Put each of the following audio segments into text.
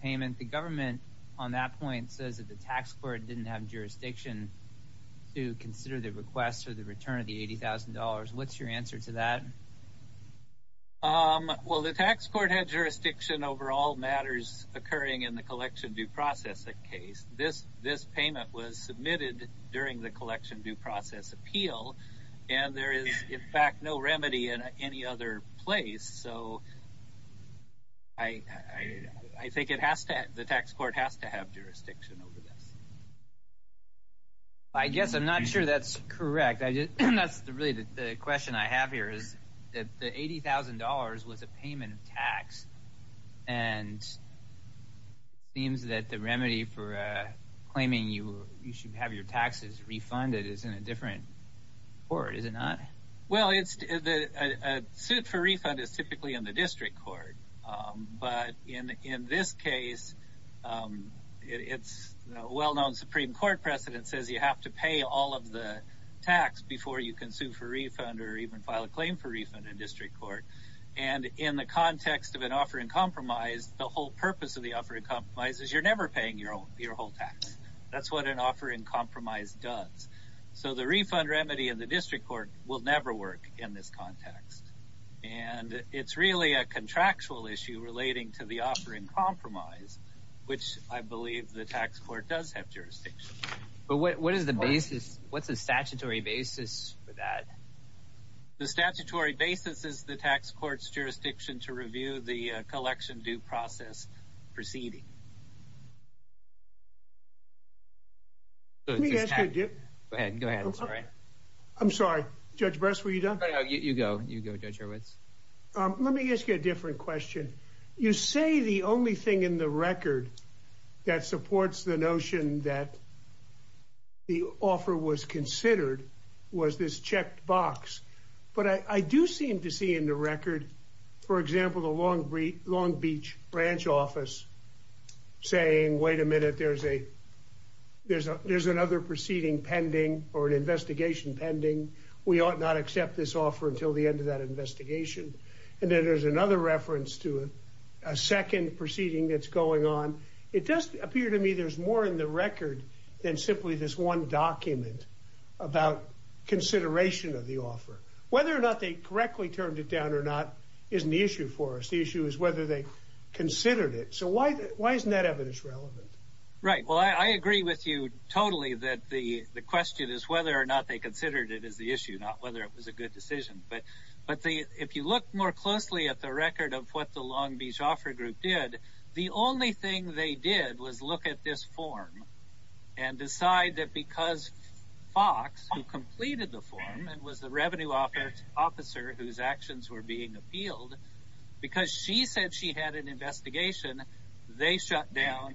payment. The government on that point says that the tax court didn't have jurisdiction to consider the request for the return of the $80,000. What's your answer to that? Well, the tax court had jurisdiction over all matters occurring in the collection due process case. This payment was submitted during the collection due process appeal, and there is, in fact, no remedy in any other place. So I think the tax court has to have jurisdiction over this. I guess I'm not sure that's correct. That's really the question I have here is that the $80,000 was a payment of tax, and it seems that the remedy for claiming you should have your taxes refunded is in a different court, is it not? Well, a suit for refund is typically in the district court. But in this case, it's a well-known Supreme Court precedent says you have to pay all of the tax before you can sue for refund or even file a claim for refund in district court. And in the context of an offer in compromise, the whole purpose of the offer in compromise is you're never paying your whole tax. That's what an offer in compromise does. So the refund remedy in the district court will never work in this context. And it's really a contractual issue relating to the offer in compromise, which I believe the tax court does have jurisdiction. But what is the basis? What's the statutory basis for that? The statutory basis is the tax court's jurisdiction to review the tax. Go ahead. Go ahead. I'm sorry. I'm sorry. Judge Bress, were you done? You go. You go, Judge Hurwitz. Let me ask you a different question. You say the only thing in the record that supports the notion that the offer was considered was this checked box. But I do seem to see in the record, for example, the Long Beach branch office saying, wait a minute, there's another proceeding pending or an investigation pending. We ought not accept this offer until the end of that investigation. And then there's another reference to a second proceeding that's going on. It does appear to me there's more in the record than simply this one document about consideration of the offer. Whether or not they correctly turned it down or not isn't the issue for us. The issue is whether they considered it. So why isn't that relevant? Right. Well, I agree with you totally that the question is whether or not they considered it as the issue, not whether it was a good decision. But if you look more closely at the record of what the Long Beach offer group did, the only thing they did was look at this form and decide that because Fox, who completed the form and was the revenue officer whose actions were being appealed, because she said she had an investigation, they shut down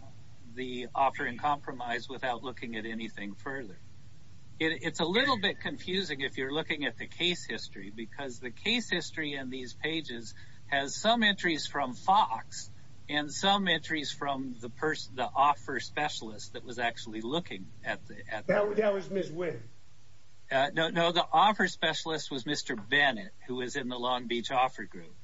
the offer and compromise without looking at anything further. It's a little bit confusing if you're looking at the case history, because the case history in these pages has some entries from Fox and some entries from the person, the offer specialist that was actually looking at it. No, no, the offer specialist was Mr. Bennett, who was in the Long Beach offer group.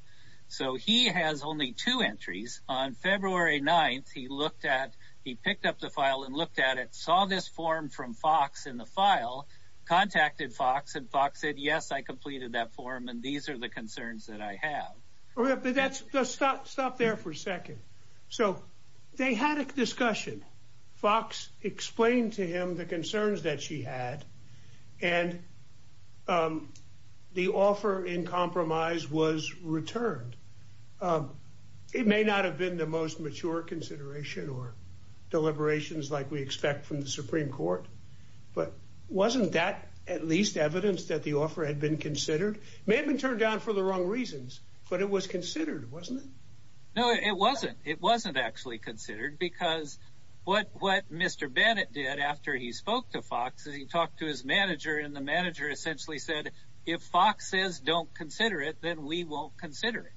So he has only two entries. On February 9th, he looked at, he picked up the file and looked at it, saw this form from Fox in the file, contacted Fox and Fox said, yes, I completed that form and these are the concerns that I have. But that's, stop there for a second. So they had a discussion. Fox explained to him the concerns that she had and the offer in compromise was returned. It may not have been the most mature consideration or deliberations like we expect from the Supreme Court, but wasn't that at least evidence that the offer had been considered? May have been turned down for the wrong reasons, but it was considered, wasn't it? No, it wasn't. It wasn't actually considered because what Mr. Bennett did after he spoke to Fox is he talked to his manager and the manager essentially said, if Fox says don't consider it, then we won't consider it.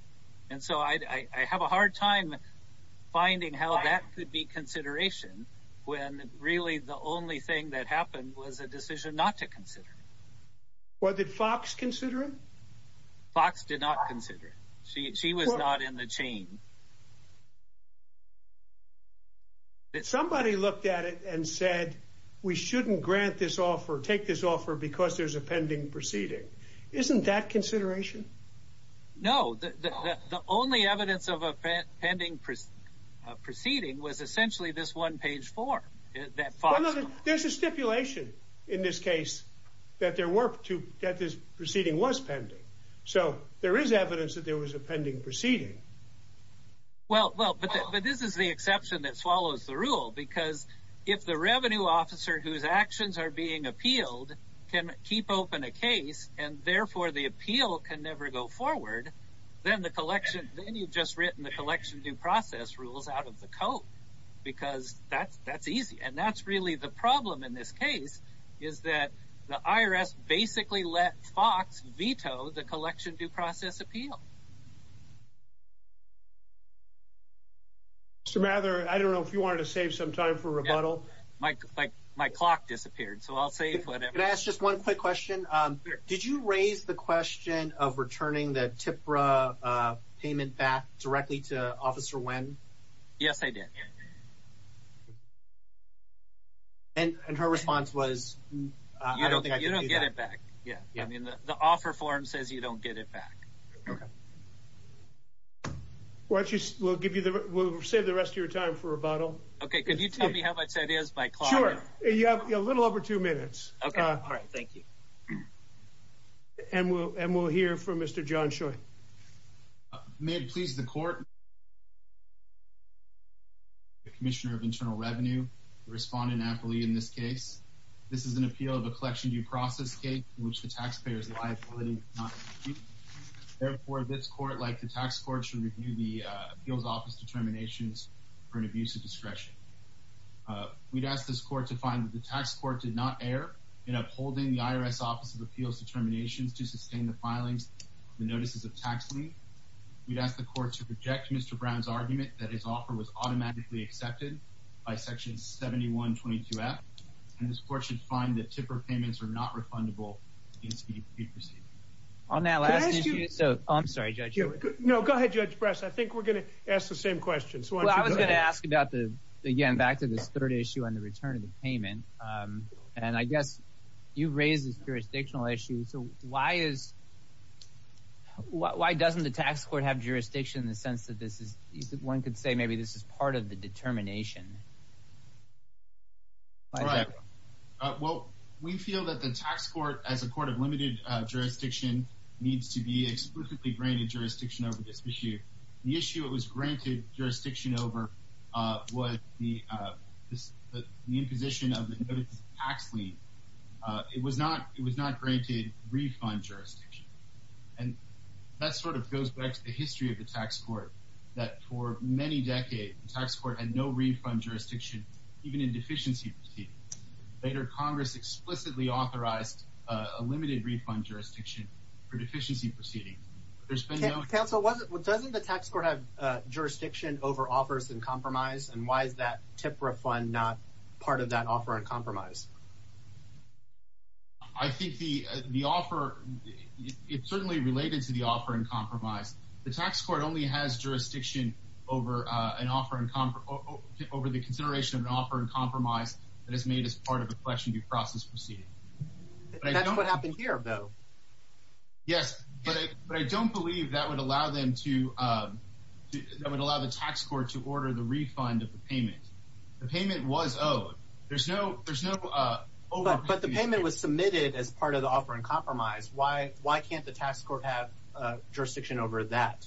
And so I have a hard time finding how that could be consideration when really the only thing that happened was a decision not to consider. Well, did Fox consider it? Fox did not consider it. She was not in the chain. Somebody looked at it and said, we shouldn't grant this offer, take this offer because there's a pending proceeding. Isn't that consideration? No, the only evidence of a pending proceeding was essentially this one page form. There's a stipulation in this case that this proceeding was pending. So there is evidence that there was a pending proceeding. Well, but this is the exception that swallows the rule because if the revenue officer whose actions are being appealed can keep open a case and therefore the appeal can never go forward, then you've just written the collection due process rules out of the coat because that's easy. And that's really the problem in this case is that the IRS basically let Fox veto the collection due process appeal. Mr. Mather, I don't know if you wanted to save some time for rebuttal. My clock disappeared, so I'll save whatever. Can I ask just one quick question? Did you raise the question of returning the TIPRA payment back directly to Officer Nguyen? Yes, I did. And her response was, I don't think I can do that. You don't get it back. Yeah, I mean, the offer form says you don't get it back. Okay. Well, we'll save the rest of your time for rebuttal. Okay, can you tell me how much that is? Sure, you have a little over two minutes. Okay, all right, thank you. And we'll hear from Mr. John Choi. May it please the Court, I'm the Commissioner of Internal Revenue, the respondent aptly in this case. This is an appeal of a collection due process case in which the taxpayer is liable. Therefore, this Court, like the tax court, should review the appeal's office determinations for an abuse of discretion. We'd ask this Court to find that the tax court did not err in upholding the IRS Office of Appeals determinations to sustain the filings of the notices of tax lien. We'd ask the Court to reject Mr. Brown's argument that his offer was automatically accepted by Section 7122F, and this Court should find that TIPRA payments are not refundable in speed of receipt. On that last issue, so I'm sorry, Judge. No, go ahead, Judge I was going to ask about the, again, back to this third issue on the return of the payment, and I guess you've raised this jurisdictional issue, so why is, why doesn't the tax court have jurisdiction in the sense that this is, one could say maybe this is part of the determination? Well, we feel that the tax court, as a court of limited jurisdiction, needs to be explicitly granted jurisdiction over this issue. The issue it was granted jurisdiction over was the imposition of the notices of tax lien. It was not granted refund jurisdiction, and that sort of goes back to the history of the tax court, that for many decades, the tax court had no refund jurisdiction even in deficiency proceedings. Later, Congress explicitly authorized a limited refund jurisdiction for deficiency proceedings. Council, doesn't the tax court have jurisdiction over offers and compromise, and why is that TIPRA fund not part of that offer and compromise? I think the offer, it's certainly related to the offer and compromise. The tax court only has jurisdiction over an offer, over the consideration of an offer and compromise that is made as part of a question due process proceeding. That's what happened here, though. Yes, but I don't believe that would allow them to, that would allow the tax court to order the refund of the payment. The payment was owed. There's no, there's no, but the payment was submitted as part of the offer and compromise. Why, why can't the tax court have jurisdiction over that?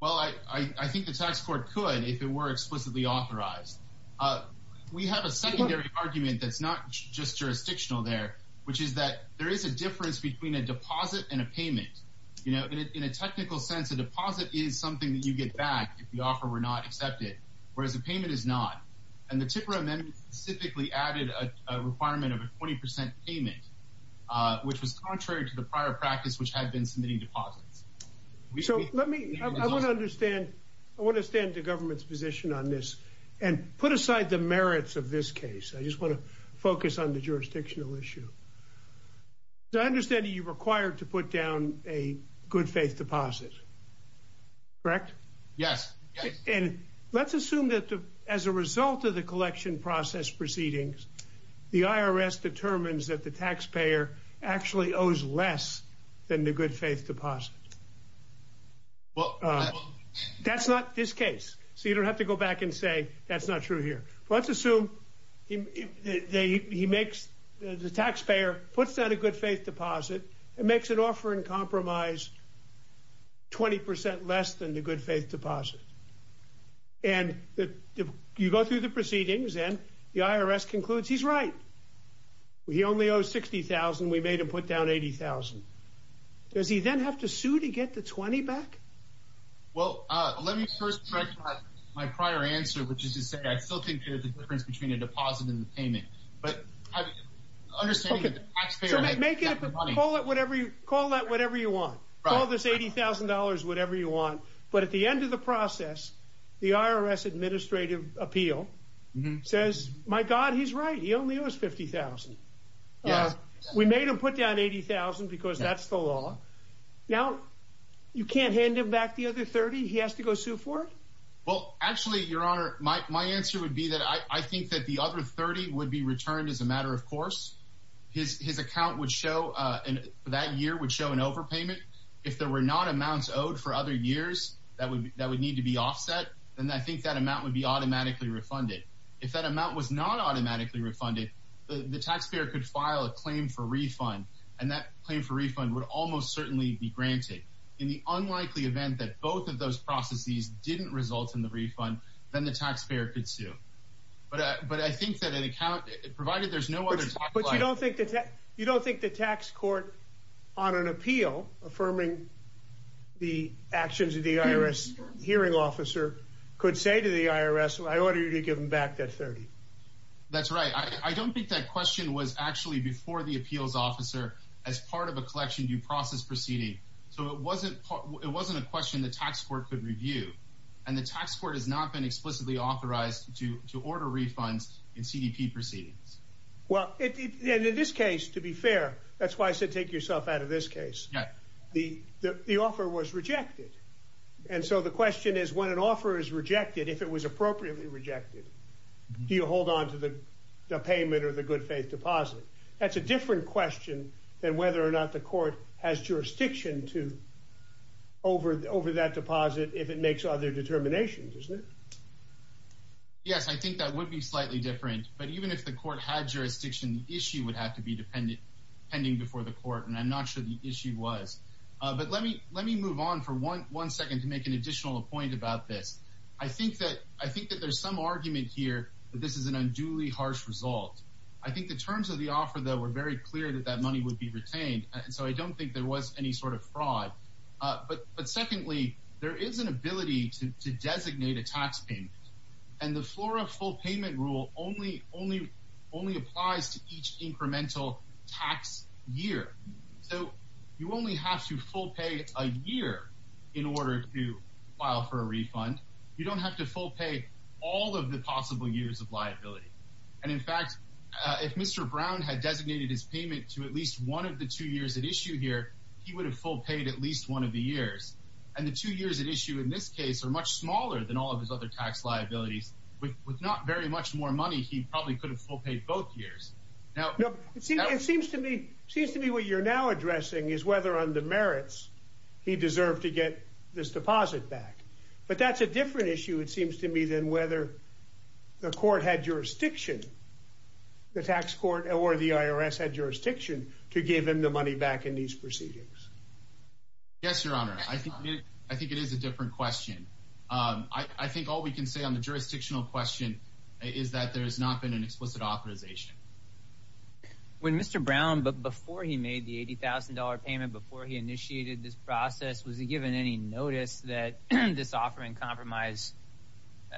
Well, I think the tax court could if it were explicitly authorized. We have a secondary argument that's not just jurisdictional there, which is that there is a difference between a deposit and a payment. You know, in a technical sense, a deposit is something that you get back if the offer were not accepted, whereas a payment is not, and the TIPRA amendment specifically added a requirement of a 20 percent payment, which was contrary to the prior practice which had been submitting deposits. So let me, I want to understand, I want to stand the government's position on this and put aside the merits of this case. I just want to focus on the jurisdictional issue. I understand you're required to put down a good faith deposit, correct? Yes. And let's assume that as a result of the collection process proceedings, the IRS determines that the taxpayer actually owes less than the good faith deposit. Well, that's not this case, so you don't have to go back and say that's not true here. Let's assume he makes, the taxpayer puts down a good faith deposit and makes an offer in compromise 20 percent less than the good faith deposit. And you go through the proceedings and the IRS concludes he's right. He only owes 60,000. We made him put down 80,000. Does he then have to sue to get the 20 back? Well, let me first correct my prior answer, which is to say I still think there's a difference between a deposit and a payment, but understanding that the taxpayer... So make it, call it whatever you, call that whatever you want. Call this $80,000, whatever you want. But at the end of the process, the IRS administrative appeal says, my God, he's right. He only owes 50,000. We made him put down 80,000 because that's the law. Now, you can't hand him back the other 30? He has to go sue for it? Well, actually, your honor, my answer would be that I think that the other 30 would be returned as a matter of course. His account would show, that year would show an overpayment. If there were not amounts owed for other years that would need to be offset, then I think that amount would be automatically refunded. If that amount was not automatically refunded, the taxpayer could file a claim for refund. And that claim for refund would almost certainly be granted. In the unlikely event that both of those processes didn't result in the refund, then the taxpayer could sue. But I think that an account, provided there's no other... You don't think the tax court on an appeal, affirming the actions of the IRS hearing officer, could say to the IRS, I order you to give him back that 30? That's right. I don't think that question was actually before the appeals officer as part of a collection due process proceeding. So it wasn't a question the tax court could review. And the tax court has not been explicitly authorized to order refunds in CDP proceedings. Well, in this case, to be fair, that's why I said take yourself out of this case. The offer was rejected. And so the question is, when an offer is rejected, if it was appropriately rejected, do you hold on to the payment or the good faith deposit? That's a different question than whether or not the court has jurisdiction to over that deposit if it makes other determinations, isn't it? Yes. Yes, I think that would be slightly different. But even if the court had jurisdiction, the issue would have to be pending before the court. And I'm not sure the issue was. But let me move on for one second to make an additional point about this. I think that there's some argument here that this is an unduly harsh result. I think the terms of the offer, though, were very clear that that money would be retained. And so I don't think there was any sort of fraud. But secondly, there is an ability to and the floor of full payment rule only only only applies to each incremental tax year. So you only have to full pay a year in order to file for a refund. You don't have to full pay all of the possible years of liability. And in fact, if Mr. Brown had designated his payment to at least one of the two years at issue here, he would have full paid at least one of the years. And the two years at issue in this case are much smaller than all of his other tax liabilities. With not very much more money, he probably could have full paid both years. Now, it seems to me it seems to me what you're now addressing is whether on the merits he deserved to get this deposit back. But that's a different issue, it seems to me, than whether the court had jurisdiction, the tax court or the IRS had jurisdiction to give him the money back in these proceedings. Yes, Your Honor, I think it is a different question. I think all we can say on the jurisdictional question is that there has not been an explicit authorization. When Mr. Brown, but before he made the $80,000 payment, before he initiated this process, was he given any notice that this offering compromise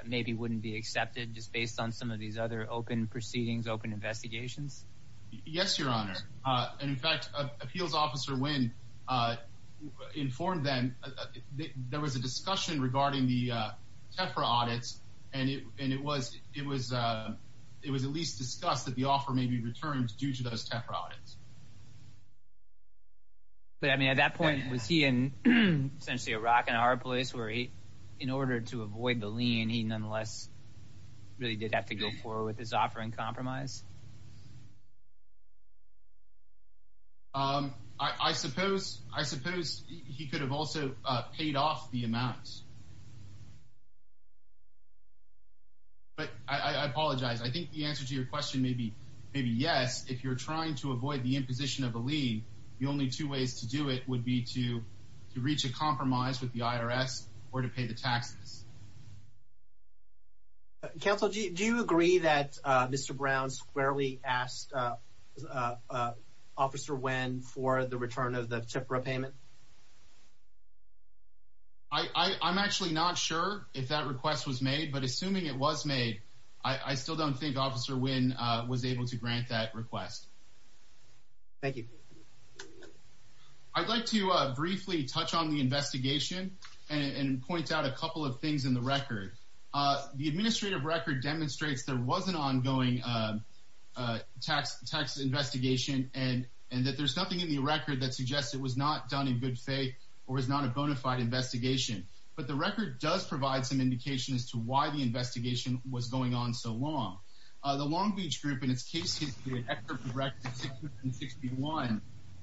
maybe wouldn't be accepted just based on some of these other open proceedings, open investigations? Yes, Your Honor. And in fact, Appeals Officer Wynn informed them that there was a discussion regarding the Tefra audits. And it was it was it was at least discussed that the offer may be returned due to those Tefra audits. But I mean, at that point, was he in essentially a rock and a hard place where he in order to avoid the lien, he nonetheless really did have to go forward with his offering compromise? Um, I suppose I suppose he could have also paid off the amount. But I apologize. I think the answer to your question may be maybe yes, if you're trying to avoid the imposition of a lien, the only two ways to do it would be to counsel. Do you agree that Mr. Brown squarely asked Officer Wynn for the return of the Tefra payment? I'm actually not sure if that request was made, but assuming it was made, I still don't think Officer Wynn was able to grant that request. Thank you. I'd like to briefly touch on the investigation and point out a couple of things in the record. The administrative record demonstrates there was an ongoing tax investigation and that there's nothing in the record that suggests it was not done in good faith or is not a bona fide investigation. But the record does provide some indication as to why the investigation was going on so long. The Long Beach Group, in its case history,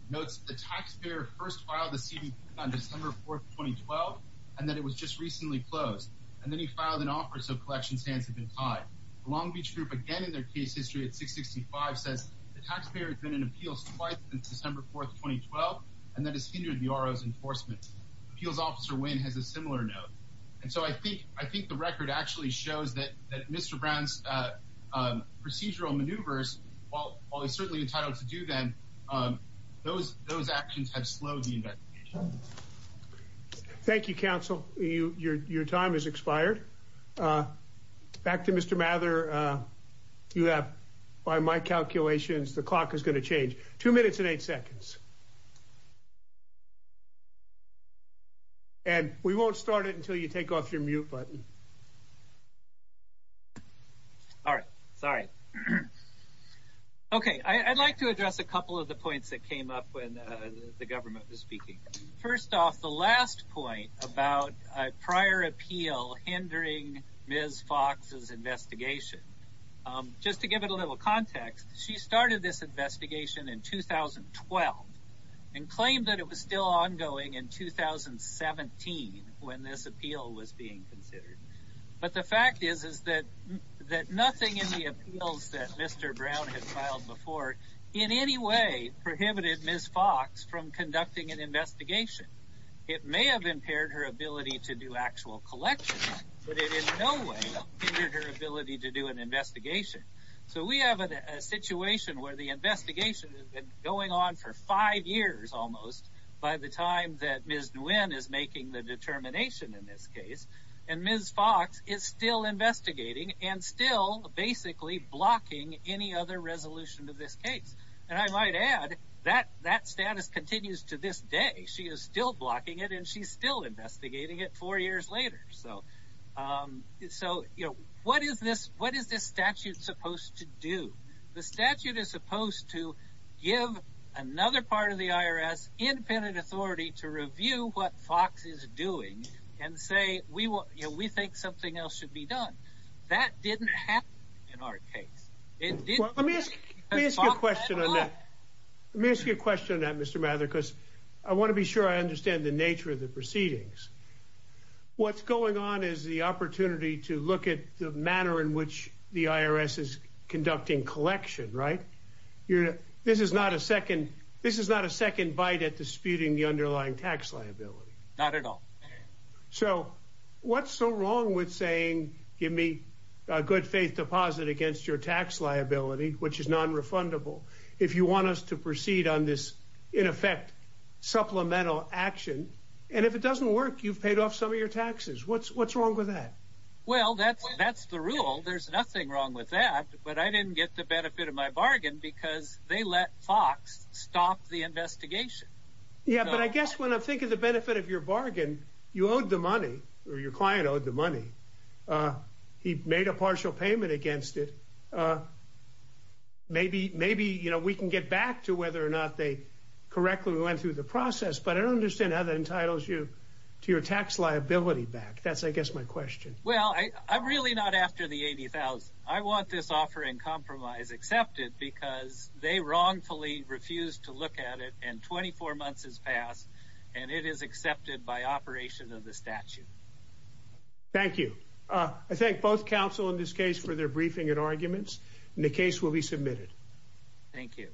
notes the taxpayer first filed the CDP on December 4, 2012, and that it was just recently closed. And then he filed an offer, so collections hands have been tied. The Long Beach Group, again in their case history at 665, says the taxpayer has been in appeals twice since December 4, 2012, and that has hindered the RO's enforcement. Appeals Officer Wynn has a similar note. And so I think the record actually shows that Mr. Brown's procedural maneuvers, while he's certainly entitled to do them, those actions have slowed the investigation. Thank you, counsel. Your time has expired. Back to Mr. Mather. You have, by my calculations, the clock is going to change. Two minutes and eight seconds. And we won't start it until you take off your mute button. All right. Sorry. Okay. I'd like to address a couple of the points that came up when the government was speaking. First off, the last point about a prior appeal hindering Ms. Fox's investigation. Just to give it a little context, she started this investigation in 2012 and claimed that it was still ongoing in 2017 when this appeal was being considered. But the fact is, is that nothing in the appeals that Mr. Brown had filed before in any way prohibited Ms. Fox from conducting an investigation. It may have impaired her ability to do actual collections, but it in no way hindered her ability to do an investigation. So we have a situation where the investigation has been going on for five years almost by the time that Ms. Nguyen is making the determination in this case, and Ms. Fox is still investigating and still basically blocking any other resolution of this case. And I might add, that status continues to this day. She is still blocking it and she's still investigating it four years later. So what is this statute supposed to do? The statute is supposed to give another part of the IRS independent authority to review what Fox is doing and say, we think something else should be done. That didn't happen in our case. Let me ask you a question on that. Let me ask you a question on that, Mr. Mather, because I want to be sure I understand the nature of the proceedings. What's going on is the opportunity to look at the manner in which the IRS is conducting collection, right? This is not a second bite at disputing the underlying tax liability. Not at all. So what's so wrong with saying, give me a good faith deposit against your tax liability, which is non-refundable. If you want us to proceed on this, in effect, supplemental action, and if it doesn't work, you've paid off some of your taxes. What's wrong with that? Well, that's the rule. There's nothing wrong with that. But I didn't get the benefit of my bargain because they let Fox stop the investigation. Yeah, but I guess when I'm thinking of the benefit of your bargain, you owed the money or your client owed the money. He made a partial payment against it. Maybe we can get back to whether or not they correctly went through the process, but I don't understand how that entitles you to your tax liability back. That's, I guess, my question. Well, I'm really not after the $80,000. I want this offer in compromise accepted because they wrongfully refused to look at it and 24 months has passed and it is accepted by operation of the statute. Thank you. I thank both counsel in this case for their briefing and arguments and the case will be submitted. Thank you.